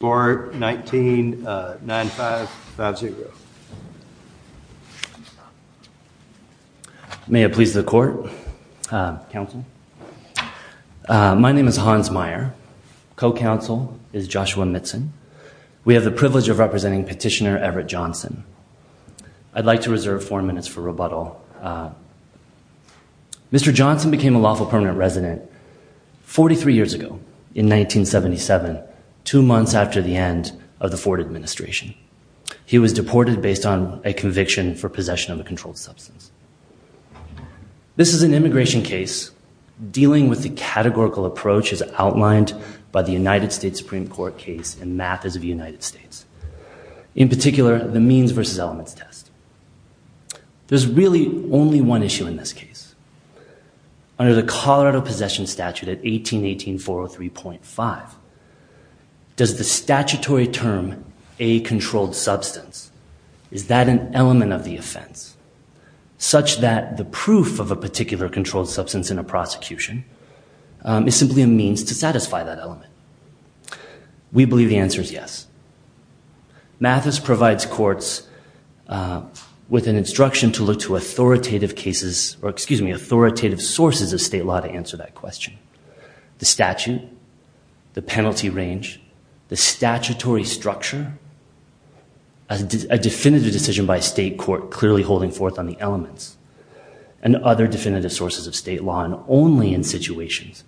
19 9 5 5 0 May it please the court. Council. My name is Hans Meyer. Co-counsel is Joshua Mitzen. We have the privilege of representing petitioner Everett Johnson. I'd like to reserve four minutes for rebuttal. Mr. Johnson became a lawful permanent resident 43 years ago in 1977, two months after the end of the Ford administration. He was deported based on a conviction for possession of a controlled substance. This is an immigration case dealing with the categorical approach as outlined by the United States Supreme Court case in Math as of the United States. In particular the means versus elements test. There's really only one issue in this case. Under the Colorado possession statute at 3.5 does the statutory term a controlled substance is that an element of the offense such that the proof of a particular controlled substance in a prosecution is simply a means to satisfy that element. We believe the answer is yes. Mathis provides courts with an instruction to look to authoritative cases or excuse me authoritative sources of state law to answer that question. The statute, the penalty range, the statutory structure, a definitive decision by state court clearly holding forth on the elements and other definitive sources of state law and only in situations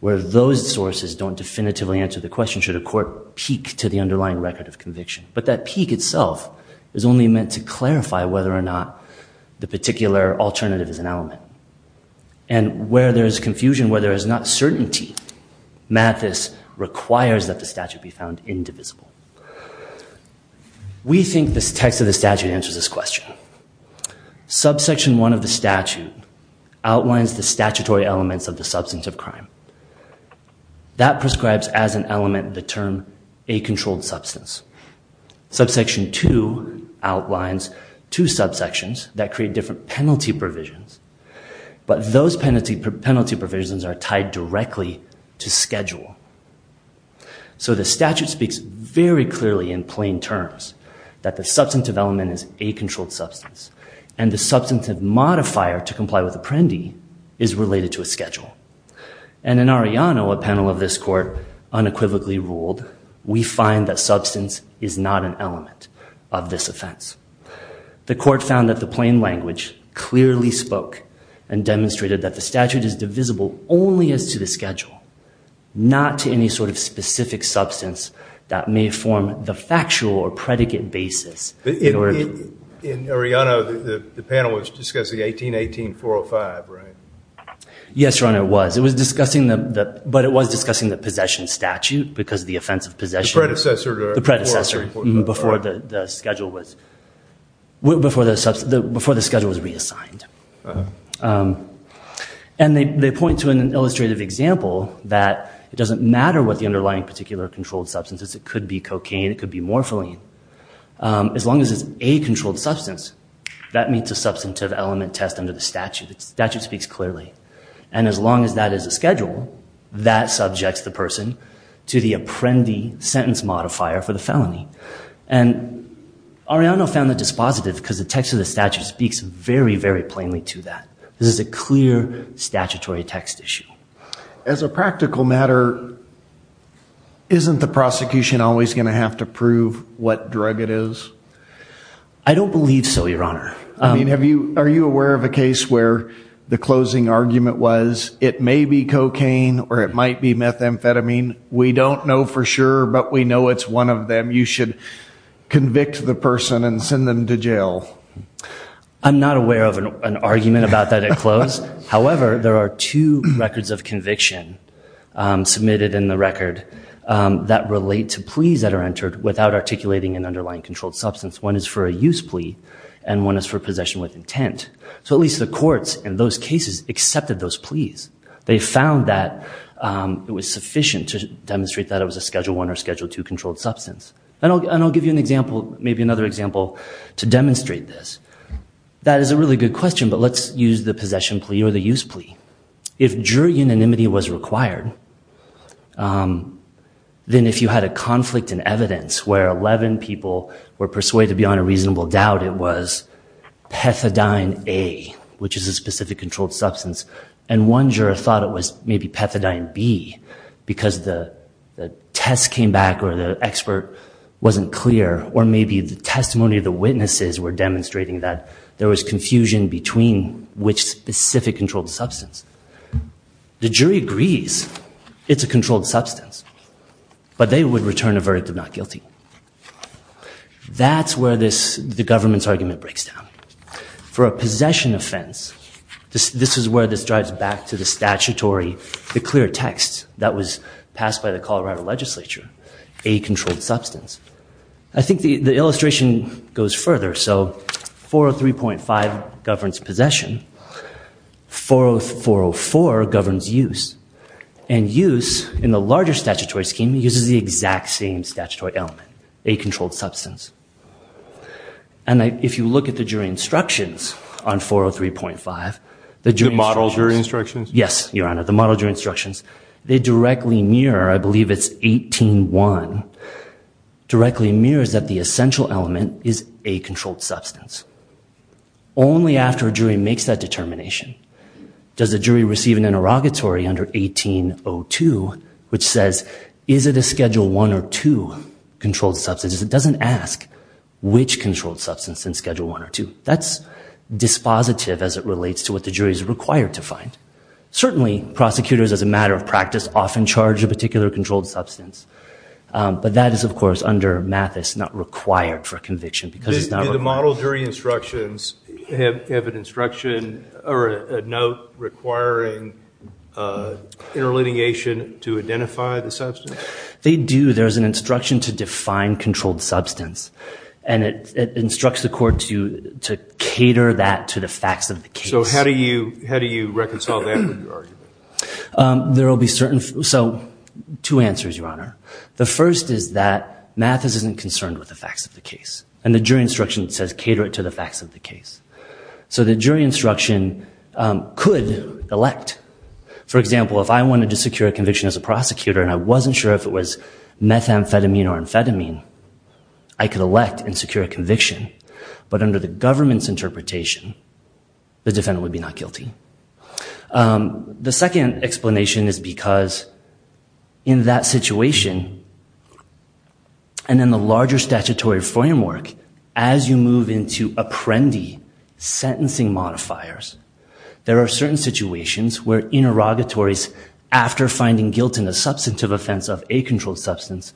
where those sources don't definitively answer the question should a court peak to the underlying record of conviction. But that peak itself is only meant to clarify whether or not the particular alternative is an element and where there is confusion where there is not certainty Mathis requires that the statute be found indivisible. We think this text of the statute answers this question. Subsection one of the statute outlines the statutory elements of the substance of crime. That prescribes as an element the term a controlled substance. Subsection two outlines two subsections that create different penalty provisions but those penalty provisions are tied directly to schedule. So the statute speaks very clearly in plain terms that the substantive element is a controlled substance and the substantive modifier to comply with Apprendi is related to a schedule. And in Arellano a panel of this court unequivocally ruled we find that substance is not an element of this offense. The court found that the plain language clearly spoke and demonstrated that the statute is divisible only as to the schedule not to any sort of specific substance that may form the factual or predicate basis. In Arellano the panel was discussing 1818 405 right? Yes your honor it was it was discussing the but it was discussing the possession statute because the offense of possession. The predecessor before the schedule was reassigned. And they point to an illustrative example that it doesn't matter what the underlying particular controlled substance is. It could be cocaine it could be morphine. As long as it's a controlled substance that meets a substantive element test under the statute. The statute speaks clearly and as long as that is a schedule that subjects the person to the Apprendi sentence modifier for the felony. And Arellano found that dispositive because the text of the statute speaks very very plainly to that. This is a clear statutory text issue. As a practical matter isn't the prosecution always going to have to prove what drug it is? I don't believe so your honor. I mean have you are you aware of a case where the closing argument was it may be cocaine or it might be methamphetamine? We don't know for sure but we know it's one of them. You should convict the person and send them to jail. I'm not aware of an argument about that at close. However there are two records of conviction submitted in the record that relate to pleas that are entered without articulating an underlying controlled substance. One is for a use plea and one is for possession with intent. So at least the courts in those cases accepted those pleas. They found that it was sufficient to demonstrate that it was a schedule one or schedule two controlled substance. And I'll give you an example maybe another example to demonstrate this. That is a really good question but let's use the possession plea or the use plea. If jury unanimity was required then if you had a conflict in evidence where 11 people were persuaded beyond a reasonable doubt it was pethadine A which is a specific controlled substance and one juror thought it was maybe pethadine B because the the test came back or the expert wasn't clear or maybe the testimony of the witnesses were demonstrating that there was confusion between which specific controlled substance. The jury agrees it's a controlled substance but they would return a verdict of not guilty. That's where this the government's argument breaks down. For a possession offense this is where this drives back to the statutory the clear text that was passed by the Colorado legislature a controlled substance. I think the the illustration goes further so 403.5 governs possession 404 governs use and use in the larger statutory scheme uses the exact same statutory element a controlled substance and if you look at the jury instructions on 403.5 the jury model jury instructions yes your honor the model jury instructions they directly mirror I believe it's 18-1 directly mirrors that the essential element is a controlled substance only after a jury makes that determination does the jury receive an interrogatory under 1802 which says is it a schedule one or two controlled substances it doesn't ask which controlled substance in schedule one or two that's dispositive as it relates to what the jury is required to find certainly prosecutors as a matter of practice often charge a particular controlled substance but that is of course under Mathis not required for a conviction because it's not the model jury instructions have an instruction or a note requiring interlegiation to identify the substance they do there's an instruction to define controlled substance and it instructs the court to to cater that to the facts of the case so how do you how do you reconcile that with your argument there will be certain so two answers your honor the first is that Mathis isn't concerned with the facts of the case and the jury instruction says cater it to the facts of the case so the jury instruction could elect for example if I wanted to secure a conviction as a prosecutor and I wasn't sure if it was methamphetamine or amphetamine I could elect and secure a conviction but under the government's interpretation the defendant would be not guilty the second explanation is because in that situation and in the larger statutory framework as you move into apprendi sentencing modifiers there are certain situations where interrogatories after finding guilt in a substantive offense of a controlled substance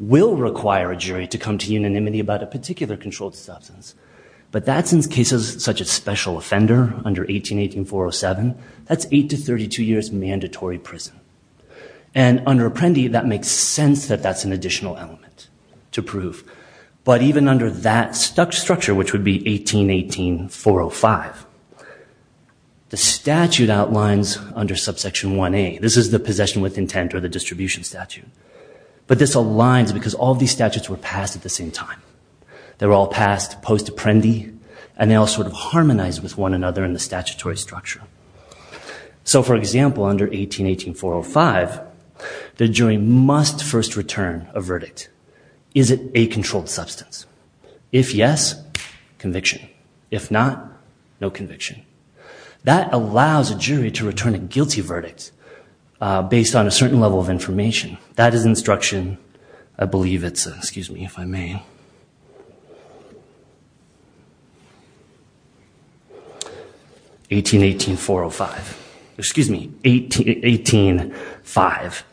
will require a jury to come to unanimity about a particular controlled substance but that's in cases such as special offender under 1818 407 that's 8 to 32 years and under apprendi that makes sense that that's an additional element to prove but even under that structure which would be 1818 405 the statute outlines under subsection 1a this is the possession with intent or the distribution statute but this aligns because all these statutes were passed at the same time they were all passed post apprendi and they all sort of harmonized with one another in the statutory structure so for example under 1818 405 the jury must first return a verdict is it a controlled substance if yes conviction if not no conviction that allows a jury to return a guilty verdict based on a certain level of information that is instruction I believe it's excuse me if I may 1818 405 excuse me 1818 5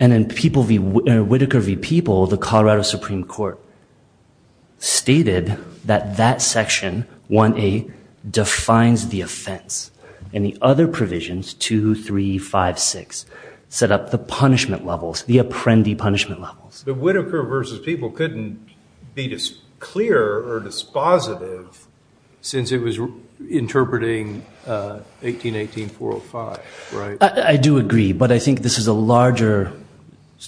and then people v Whitaker v people the Colorado Supreme Court stated that that section 1a defines the offense and the other provisions two three five six set up the punishment levels the apprendi punishment levels the Whitaker versus people couldn't be just clear or dispositive since it was interpreting 1818 405 right I do agree but I think this is a larger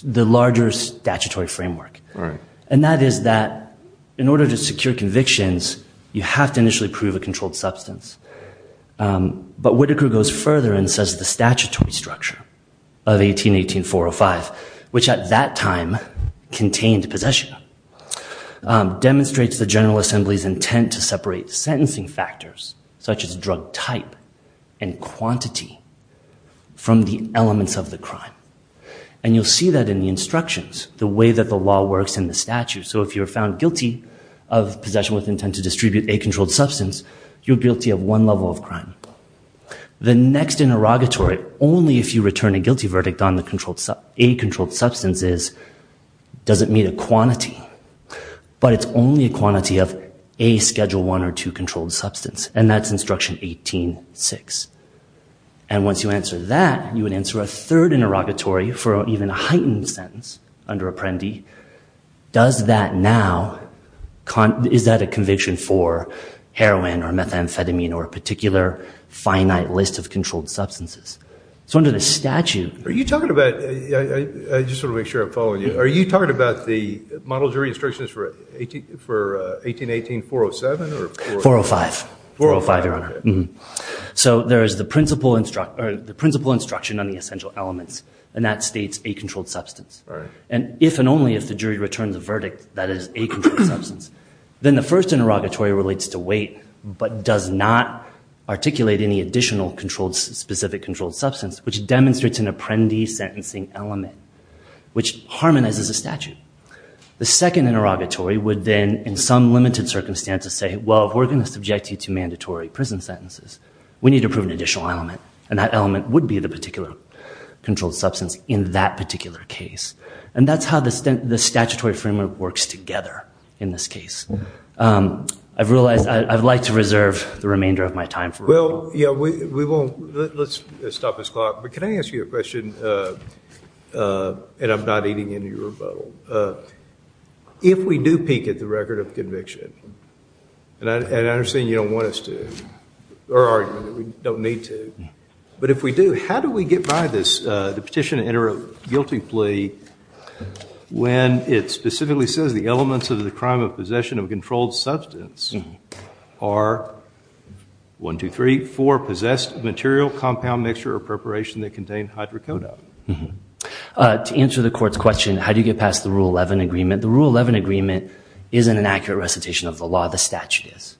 the larger statutory framework right and that is that in order to secure convictions you have to initially prove a controlled substance but Whitaker goes further and says the statutory structure of 1818 405 which at that time contained possession demonstrates the General Assembly's intent to separate sentencing factors such as drug type and quantity from the elements of the crime and you'll see that in the instructions the way that the law works in the statute so if you're found guilty of possession with intent to distribute a controlled substance you're guilty of one level of crime the next interrogatory only if you doesn't meet a quantity but it's only a quantity of a schedule one or two controlled substance and that's instruction 18 6 and once you answer that you would answer a third interrogatory for even a heightened sentence under apprendi does that now is that a conviction for heroin or methamphetamine or a particular finite list of controlled substances so under the statute are you talking about i just want to make sure i'm following you are you talking about the model jury instructions for 18 for 1818 407 or 405 405 so there is the principal instruct or the principal instruction on the essential elements and that states a controlled substance and if and only if the jury returns a verdict that is a controlled substance then the first interrogatory relates to weight but does not articulate any additional controlled specific controlled substance which demonstrates an apprendi sentencing element which harmonizes a statute the second interrogatory would then in some limited circumstances say well if we're going to subject you to mandatory prison sentences we need to prove an additional element and that element would be the particular controlled substance in that particular case and that's how the the statutory framework works together in this case i've realized i'd like to let's stop this clock but can i ask you a question uh and i'm not eating into your rebuttal if we do peek at the record of conviction and i understand you don't want us to or argument that we don't need to but if we do how do we get by this uh the petition to enter a guilty plea when it specifically says the elements of the crime of possession of controlled substance are one two three four possessed material compound mixture or preparation that contain hydrocodone to answer the court's question how do you get past the rule 11 agreement the rule 11 agreement isn't an accurate recitation of the law the statute is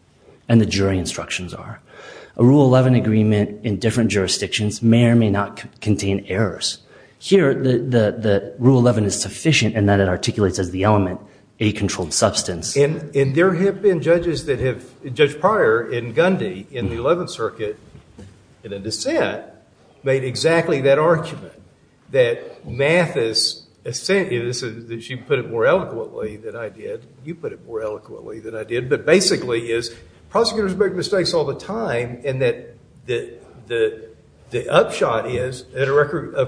and the jury instructions are a rule 11 agreement in different jurisdictions may or may not contain errors here the the rule 11 is sufficient and that it articulates as the element a controlled substance and there have been judges that have judge prior in gundy in the 11th circuit in a dissent made exactly that argument that math is a sentence that she put it more eloquently than i did you put it more eloquently than i did but basically is prosecutors make mistakes all the time and that the the the upshot is at a record of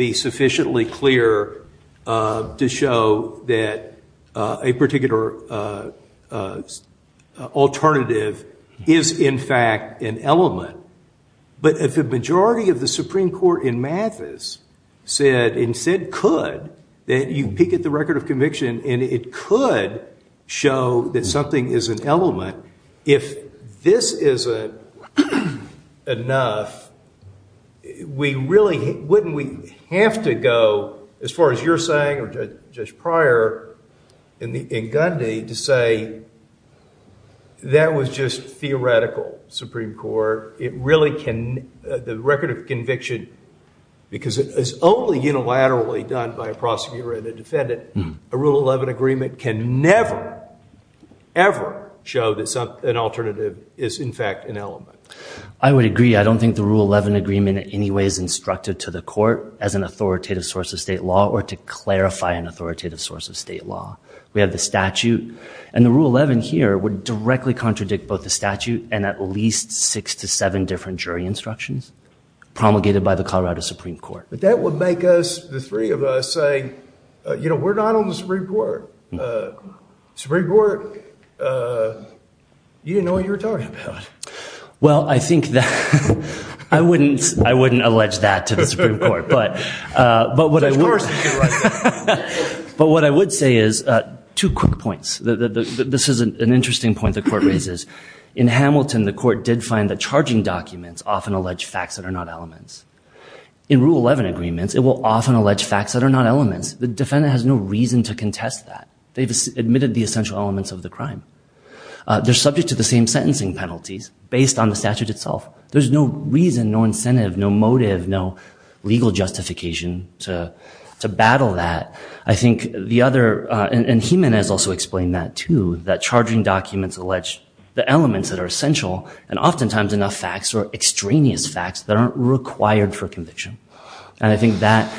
be sufficiently clear uh to show that a particular uh alternative is in fact an element but if the majority of the supreme court in math is said and said could that you peek at the record of conviction and it could show that something is an element if this isn't enough we really wouldn't we have to go as far as you're saying or just prior in the in gundy to say that was just theoretical supreme court it really can the record of conviction because it is only unilaterally done by a prosecutor and a defendant a rule 11 agreement can never ever show that some an alternative is in fact an element i would agree i don't think the rule 11 agreement in any way is instructed to the court as an authoritative source of state law or to clarify an authoritative source of state law we have the statute and the rule 11 here would directly contradict both the statute and at least six to seven different jury instructions promulgated by the colorado supreme court but that would make us the three of us say you know we're not on the supreme court uh supreme court uh you didn't know what you were talking about well i think that i wouldn't i wouldn't allege that to the supreme court but uh but what i would but what i would say is two quick points the the this is an interesting point the court raises in hamilton the court did find that charging documents often allege facts that are not elements in rule 11 agreements it will often allege facts that are not elements the defendant has no reason to contest that they've admitted the essential elements of the crime they're subject to the same sentencing penalties based on the statute itself there's no reason no incentive no motive no legal justification to to battle that i think the other uh and heman has also explained that too that charging documents allege the elements that are essential and oftentimes enough facts or extraneous facts that aren't required for conviction and i think that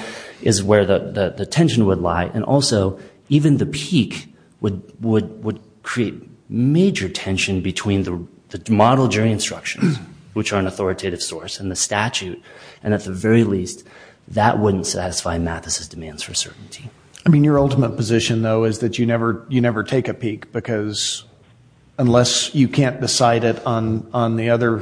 is where the the tension would lie and also even the peak would would would create major tension between the the model jury instructions which are an authoritative source and the statute and at the very least that wouldn't satisfy mathesis demands for certainty i mean your ultimate position though is that you never you never take a peak because unless you can't decide it on on the other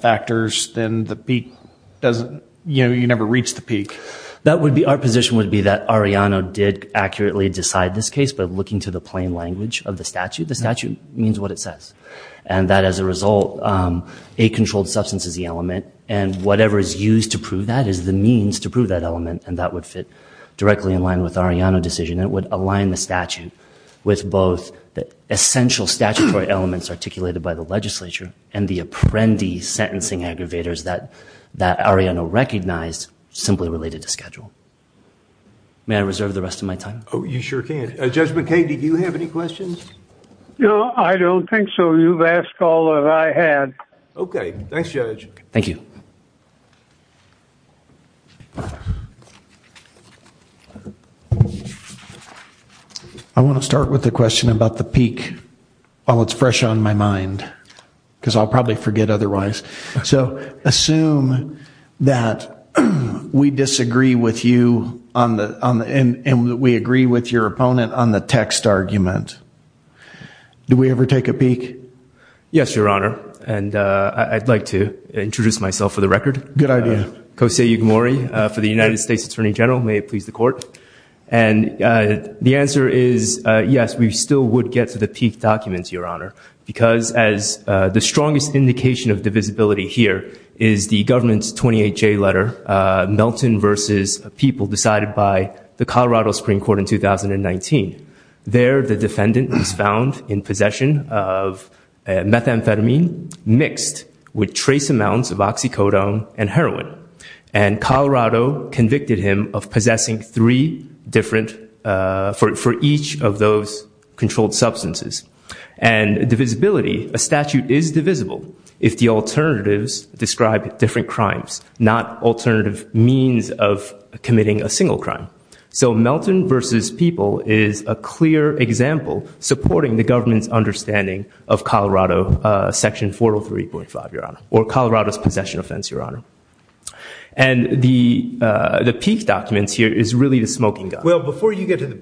factors then the peak doesn't you know you never reach the peak that would be our position would be that ariano did accurately decide this case but looking to the plain language of the statute the statute means what it says and that as a result um a controlled substance is the element and whatever is used to prove that is the means to prove that element and that would fit directly in line with ariano decision it would align the statute with both the essential statutory elements articulated by the legislature and the apprentice sentencing aggravators that that ariano recognized simply related to schedule may i reserve the rest of my time oh you sure can uh judgment k did you have any questions no i don't think so you've asked all that i had okay thanks judge thank you i want to start with the question about the peak while it's fresh on my mind because i'll probably forget otherwise so assume that we disagree with you on the on the end and we agree with your opponent on the text argument do we ever take a peak yes your honor and uh i'd like to introduce myself for the record good idea kosei yugimori for the united states attorney general may it please the court and uh the answer is uh yes we still would get to the peak documents your honor because as uh the strongest indication of divisibility here is the government's 28j letter uh melton versus people decided by the colorado supreme court in 2019 there the defendant was found in possession of methamphetamine mixed with trace amounts of oxycodone and heroin and colorado convicted him of possessing three different uh for each of those controlled substances and divisibility a statute is divisible if the alternatives describe different crimes not alternative means of committing a single crime so melton versus people is a clear example supporting the government's understanding of colorado uh section 403.5 your honor or colorado's possession offense your honor and the uh the peak documents here is really the smoking well before you get to the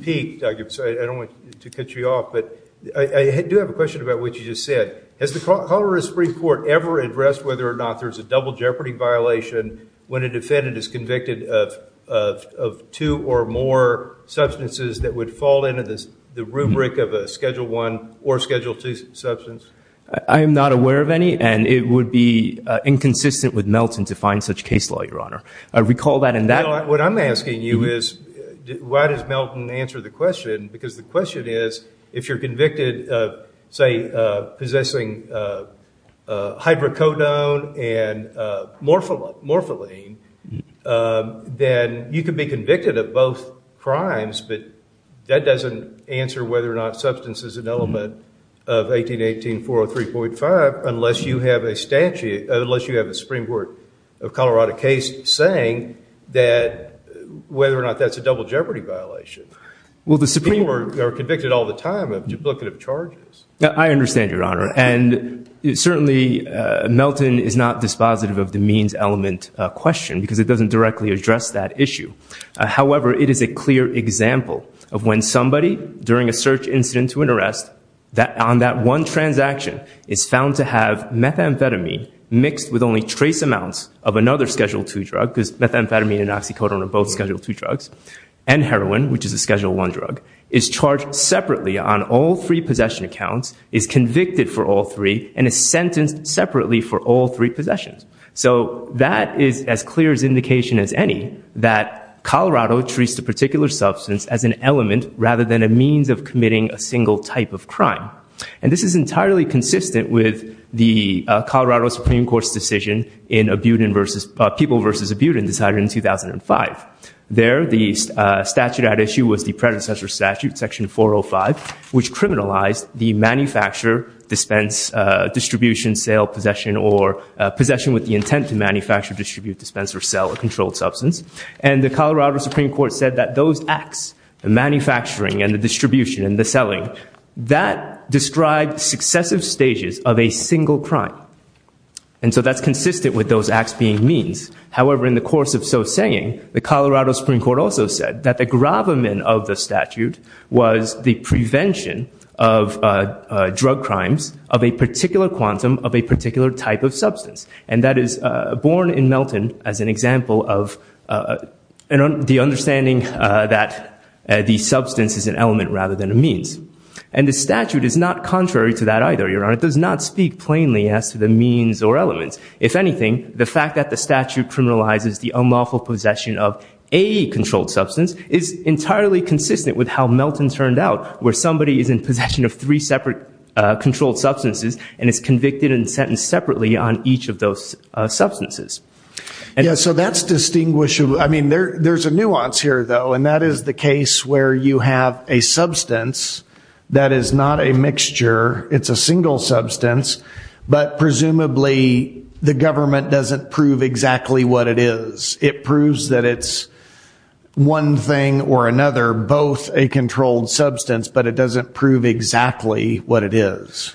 peak documents i don't want to cut you off but i do have a question about what you just said has the colorado supreme court ever addressed whether or not there's a double jeopardy violation when a defendant is convicted of of two or more substances that would fall into this the rubric of a schedule one or schedule two substance i am not aware of any and it would be uh inconsistent with melton to find such case law your honor i recall that and that what i'm asking you is why does melton answer the question because the question is if you're convicted of say uh possessing uh uh hydrocodone and uh morpholine morpholine then you can be convicted of both crimes but that doesn't answer whether or not substance is an element of 1818 403.5 unless you have a statute unless you have a supreme court of colorado case saying that whether or not that's a double jeopardy violation well the supreme court are convicted all the time of duplicative charges i understand your honor and certainly melton is not dispositive of the means element question because it doesn't directly address that issue however it is a clear example of when somebody during a search incident to an arrest that on that one transaction is found to have methamphetamine mixed with only trace amounts of another schedule two drug because methamphetamine and oxycodone are both schedule two drugs and heroin which is a schedule one drug is charged separately on all three possession accounts is convicted for all three and is sentenced separately for all three possessions so that is as clear as indication as any that colorado treats a particular substance as an element rather than a means of committing a single type of crime and this is entirely consistent with the colorado supreme court's decision in abutin versus people versus abutin decided in 2005 there the statute at issue was the predecessor statute section 405 which criminalized the manufacture dispense distribution sale possession or possession with the intent to manufacture distribute dispense or sell a controlled substance and the colorado supreme court said that those acts the manufacturing and the distribution and the selling that described successive stages of a single crime and so that's consistent with those acts being means however in the course of so saying the colorado supreme court also said that the gravamen of the statute was the prevention of uh drug crimes of a particular quantum of a particular type of substance and that is uh born in melton as an example of uh the understanding uh that the substance is an element rather than a means and the statute is not contrary to that either your honor it does not speak plainly as to the means or elements if anything the fact that the statute criminalizes the unlawful possession of a controlled substance is entirely consistent with how melton turned out where somebody is in possession of three separate uh controlled substances and is convicted and sentenced separately on each of those substances yeah so that's distinguishable i mean there there's a nuance here though and that is the case where you have a substance that is not a mixture it's a single substance but presumably the government doesn't prove exactly what it is it proves that it's one thing or another both a controlled substance but it doesn't prove exactly what it is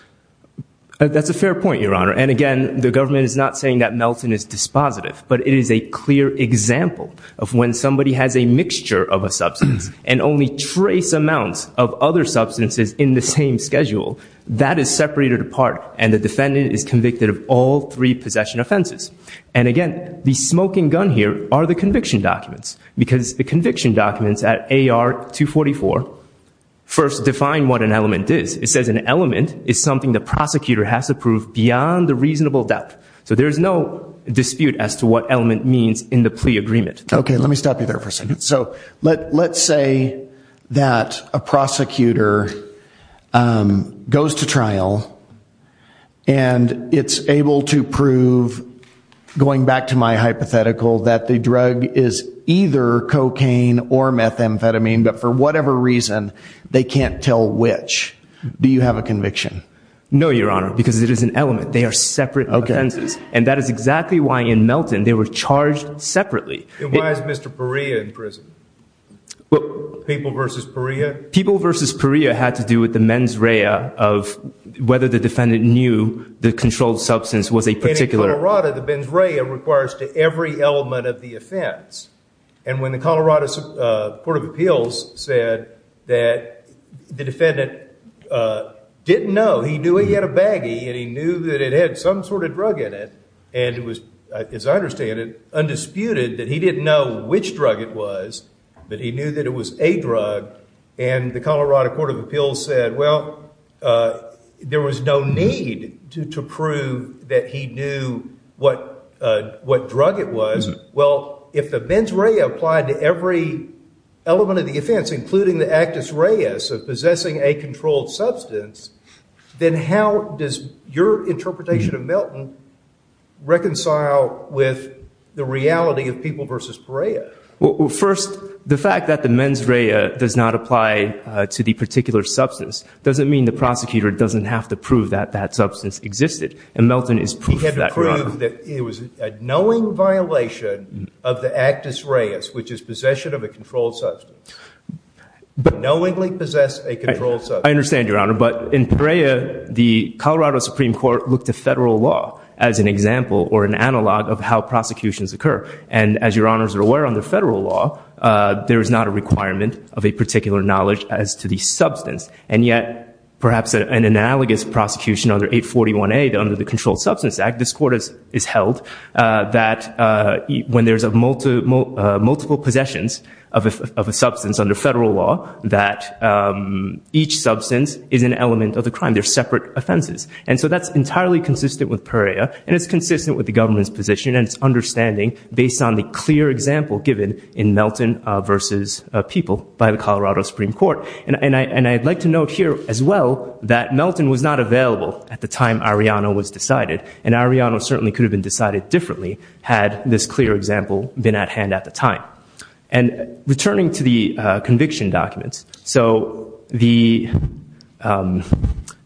that's a fair point your honor and again the government is not saying that melton is dispositive but it is a clear example of when somebody has a mixture of a substance and only trace amounts of other substances in the same schedule that is separated apart and the defendant is convicted of all three possession offenses and again the smoking gun here are the conviction documents because the conviction documents at ar 244 first define what an element is it says an element is something the prosecutor has to prove beyond the reasonable depth so there is no dispute as to what element means in the plea agreement okay let me stop you there for a second so let let's say that a prosecutor goes to trial and it's able to prove going back to my hypothetical that the drug is either cocaine or methamphetamine but for whatever reason they can't tell which do you have a conviction no your honor because it is an element they are separate offenses and that is exactly why in melton they were charged separately and why is mr paria in prison well people versus paria people versus paria had to do with the mens rea of whether the defendant knew the controlled substance was a particular rata the benz rea requires to every element of the offense and when the colorado uh court of appeals said that the defendant uh didn't know he knew he had a baggie and he knew that it had some sort of drug in it and it was as i understand it undisputed that he didn't know which drug it was but he knew that it was a drug and the colorado court of appeals said well uh there was no need to prove that he knew what uh what drug it was well if the mens rea applied to every element of the offense including the actus reus of possessing a controlled substance then how does your interpretation of melton reconcile with the reality of people versus paria well first the fact that the mens rea does not apply to the particular substance doesn't mean the prosecutor doesn't have to prove that that substance existed and melton is proof that he had to prove that it was a knowing violation of the actus reus which is possession of a controlled substance but knowingly possessed a controlled i understand your honor but in paria the colorado supreme court looked to federal law as an example or an analog of how prosecutions occur and as your honors are aware under federal law uh there is not a requirement of a particular knowledge as to the substance and yet perhaps an analogous prosecution under 841a under the controlled substance act this court is is held uh that uh when there's a multiple multiple possessions of a substance under federal law that um each substance is an element of the crime they're separate offenses and so that's entirely consistent with paria and it's consistent with the government's position and its understanding based on the clear example given in melton uh versus people by the colorado supreme court and and i and i'd like to note here as well that melton was not available at the time ariana was decided and ariana certainly could have been decided differently had this clear example been at hand at the time and returning to uh conviction documents so the um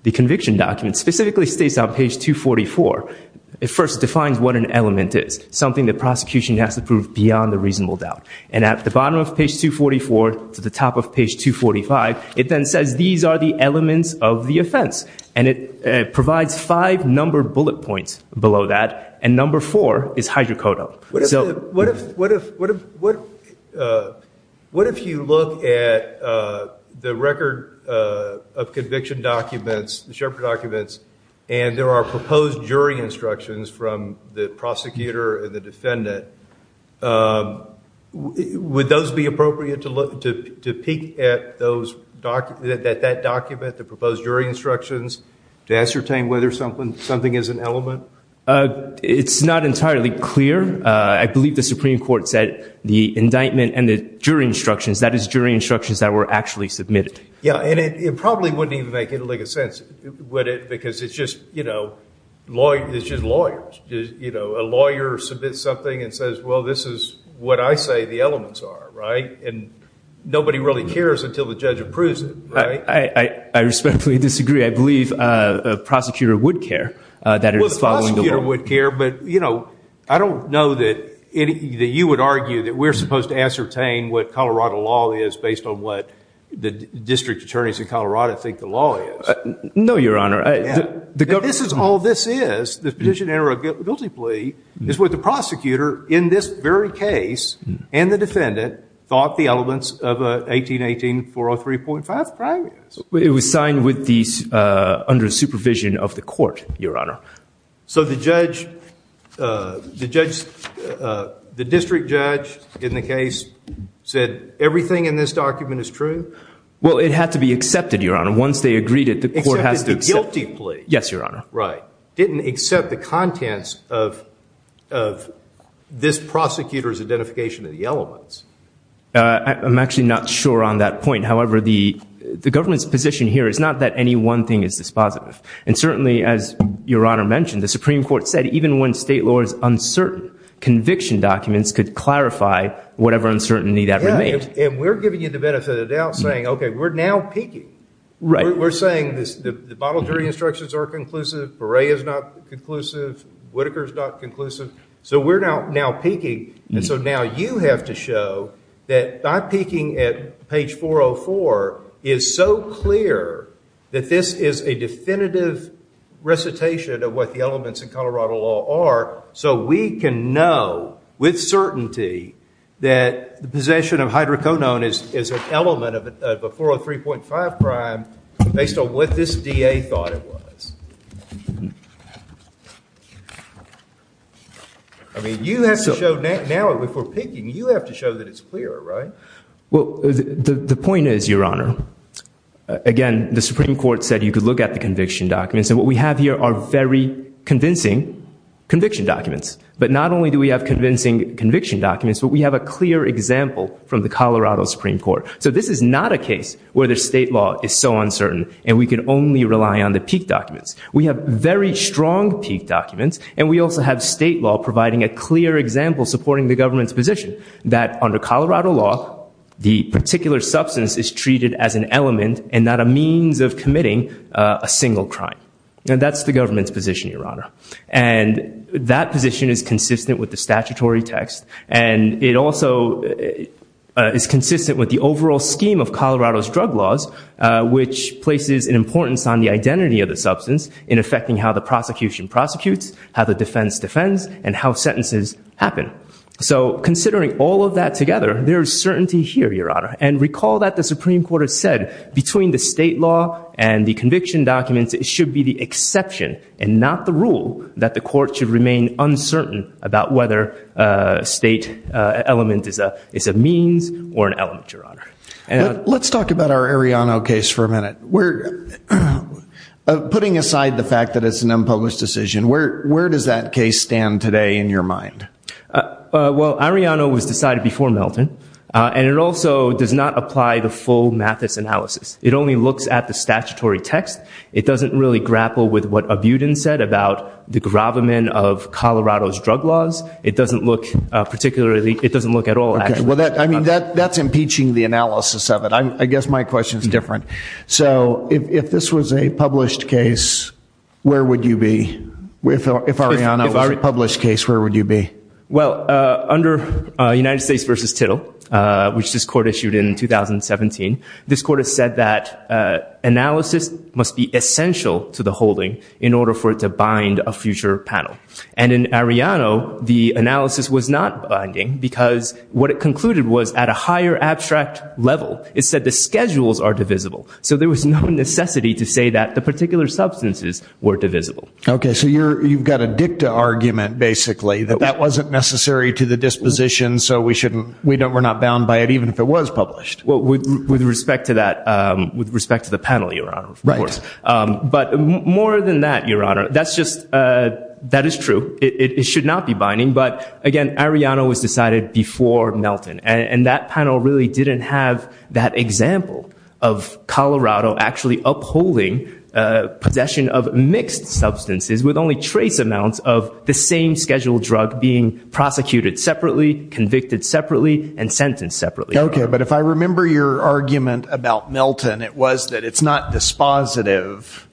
the conviction document specifically states on page 244 it first defines what an element is something that prosecution has to prove beyond the reasonable doubt and at the bottom of page 244 to the top of page 245 it then says these are the elements of the offense and it provides five number bullet points below that and number four is hydrocodone so what if what if what if what uh what if you look at uh the record uh of conviction documents the shepherd documents and there are proposed jury instructions from the prosecutor and the defendant um would those be appropriate to look to to peek at those documents that that document the proposed jury instructions to ascertain whether something something is an element uh it's not entirely clear uh i believe the supreme court said the indictment and the jury instructions that is jury instructions that were actually submitted yeah and it probably wouldn't even make it like a sense would it because it's just you know lawyer it's just lawyers you know a lawyer submits something and says well this is what i say the elements are right and nobody really cares until the judge approves it right i i respectfully disagree i believe uh prosecutor would care uh that it was following would care but you know i don't know that any that you would argue that we're supposed to ascertain what colorado law is based on what the district attorneys in colorado think the law is no your honor this is all this is this position error guilty plea is what the prosecutor in this very case and the defendant thought the elements of a 1818 403.5 crime is it was signed with these uh under supervision of the court your honor so the judge uh the judge uh the district judge in the case said everything in this document is true well it had to be accepted your honor once they agreed it the court has to guilty plea yes your honor right didn't accept the contents of of this prosecutor's identification of the elements uh i'm actually not sure on that point however the the government's position here is not that any one thing is this positive and certainly as your honor mentioned the supreme court said even when state law is uncertain conviction documents could clarify whatever uncertainty that remains and we're giving you the benefit of the doubt saying okay we're now peaking right we're saying this the bottle jury instructions are conclusive beret is not conclusive whitaker's not conclusive so we're now now peaking and so now you have to show that not peaking at page 404 is so clear that this is a definitive recitation of what the elements in colorado law are so we can know with certainty that the possession of hydrocodone is is an element of a 403.5 prime based on what this da thought it was i mean you have to show now before peaking you have to show that it's clear right well the the point is your honor again the supreme court said you could look at the conviction documents and what we have here are very convincing conviction documents but not only do we have convincing conviction documents but we have a clear example from the colorado supreme court so this is not a case where the state law is so uncertain and we can only rely on the peak documents we have very strong peak documents and we also have state law providing a clear example supporting the government's position that under colorado law the particular substance is treated as an element and not a means of committing a single crime and that's the government's position your honor and that position is consistent with the statutory text and it also is consistent with the overall scheme of colorado's drug laws which places an importance on the identity of the substance in affecting how the prosecution prosecutes how the defense defends and how sentences happen so considering all of that together there is certainty here your honor and recall that the supreme court has said between the state law and the conviction documents it should be the exception and not the rule that the court should remain uncertain about whether a state uh element is a is a means or an element your honor let's talk about our ariano case for a minute we're putting aside the fact that it's an unpublished decision where where does that case stand today in your mind uh well ariano was decided before melton uh and it also does not apply the full mathis analysis it only looks at the statutory text it doesn't really grapple with what abutin said about the gravamen of colorado's drug laws it doesn't look particularly it doesn't look at all well that i mean that that's impeaching the analysis of it i guess my question is different so if if this was a published case where would you be if ariana was a published case where would you be well uh under united states versus tittle uh which this court issued in 2017 this court has said that uh analysis must be essential to the holding in order for it to bind a future panel and in ariano the analysis was not binding because what it concluded was at a higher abstract level it said the schedules are divisible so there was no necessity to that the particular substances were divisible okay so you're you've got a dicta argument basically that that wasn't necessary to the disposition so we shouldn't we don't we're not bound by it even if it was published well with with respect to that um with respect to the panel your honor right um but more than that your honor that's just uh that is true it it should not be binding but again ariano was decided before melton and that panel really didn't have that example of colorado actually upholding uh possession of mixed substances with only trace amounts of the same scheduled drug being prosecuted separately convicted separately and sentenced separately okay but if i remember your argument about melton it was that it's not dispositive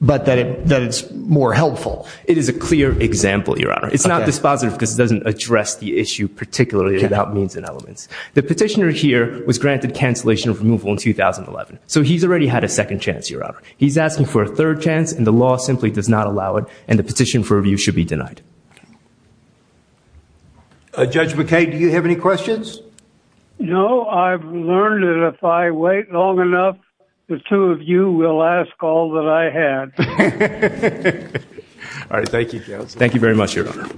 but that it that it's more helpful it is a clear example your honor it's not dispositive because it doesn't address the issue particularly about means and elements the petitioner here was granted cancellation of removal in 2011 so he's already had a second chance your honor he's asking for a third chance and the law simply does not allow it and the petition for review should be denied judge mckay do you have any questions no i've learned that if i wait long enough the two of you will ask all that i had all right thank you thank you very much your honor um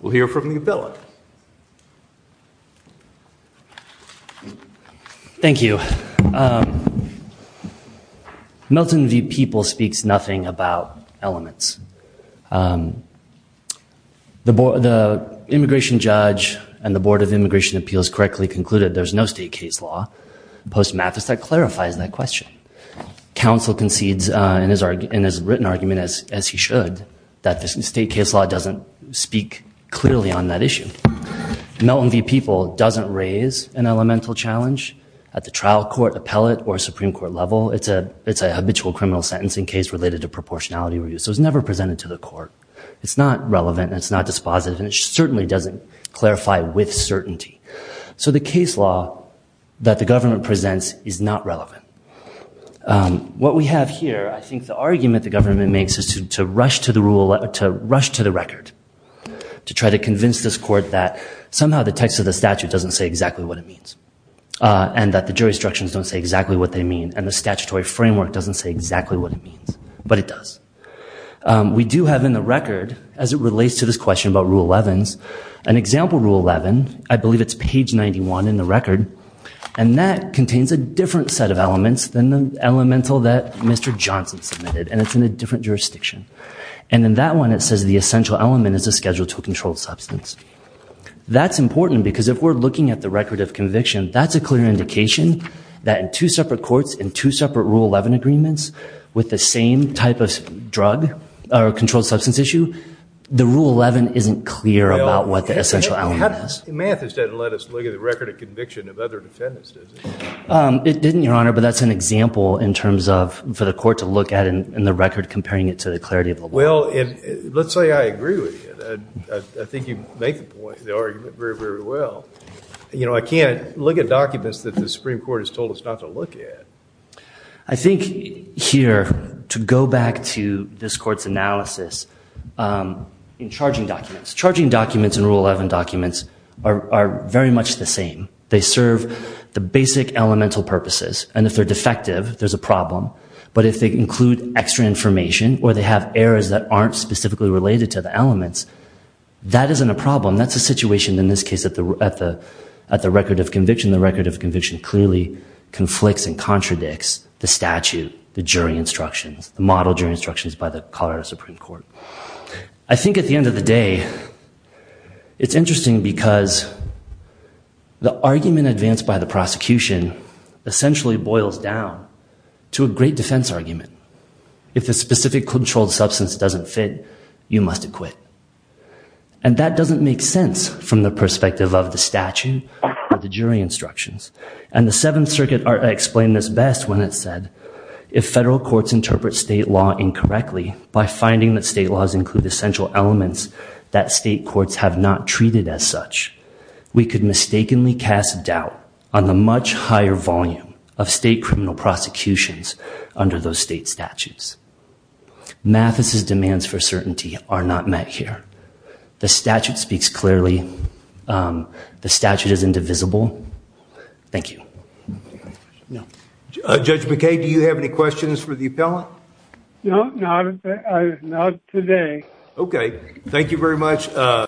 we'll hear from the appellate thank you um melton v people speaks nothing about elements um the board the immigration judge and the board of immigration appeals correctly concluded there's no state case law post mathis that clarifies that question council concedes uh in his argument as written argument as as he should that the state case law doesn't speak clearly on that issue melton v people doesn't raise an elemental challenge at the trial court appellate or supreme court level it's a it's a habitual criminal sentencing case related to proportionality review so it's never presented to the court it's not relevant it's not dispositive and it certainly doesn't clarify with certainty so the case law that the government presents is not relevant what we have here i think the argument the government makes is to rush to the rule to rush to the record to try to convince this court that somehow the text of the statute doesn't say exactly what it means uh and that the jurisdictions don't say exactly what they mean and the statutory framework doesn't say exactly what it means but it does we do have in the record as it relates to this question about rule 11's example rule 11 i believe it's page 91 in the record and that contains a different set of elements than the elemental that mr johnson submitted and it's in a different jurisdiction and in that one it says the essential element is a schedule to a controlled substance that's important because if we're looking at the record of conviction that's a clear indication that in two separate courts in two separate rule 11 agreements with the same type of drug or controlled substance issue the rule 11 isn't clear about what the essential element is mathis didn't let us look at the record of conviction of other defendants does it um it didn't your honor but that's an example in terms of for the court to look at in the record comparing it to the clarity of well if let's say i agree with you i think you make the point the argument very very well you know i can't look at documents that the supreme court has told us not to look at i think here to go back to this court's analysis in charging documents charging documents and rule 11 documents are very much the same they serve the basic elemental purposes and if they're defective there's a problem but if they include extra information or they have errors that aren't specifically related to the elements that isn't a problem that's a situation in this case at the at the at the record of conviction the record of conviction clearly conflicts and contradicts the statute the jury instructions the colorado supreme court i think at the end of the day it's interesting because the argument advanced by the prosecution essentially boils down to a great defense argument if the specific controlled substance doesn't fit you must acquit and that doesn't make sense from the perspective of the statute or the jury instructions and the seventh circuit explained this best when it said if federal courts interpret state law incorrectly by finding that state laws include essential elements that state courts have not treated as such we could mistakenly cast doubt on the much higher volume of state criminal prosecutions under those state statutes mathis's demands for certainty are not met here the statute speaks clearly the statute is indivisible thank you no judge mckay do you have any questions for the appellant no not not today okay thank you very much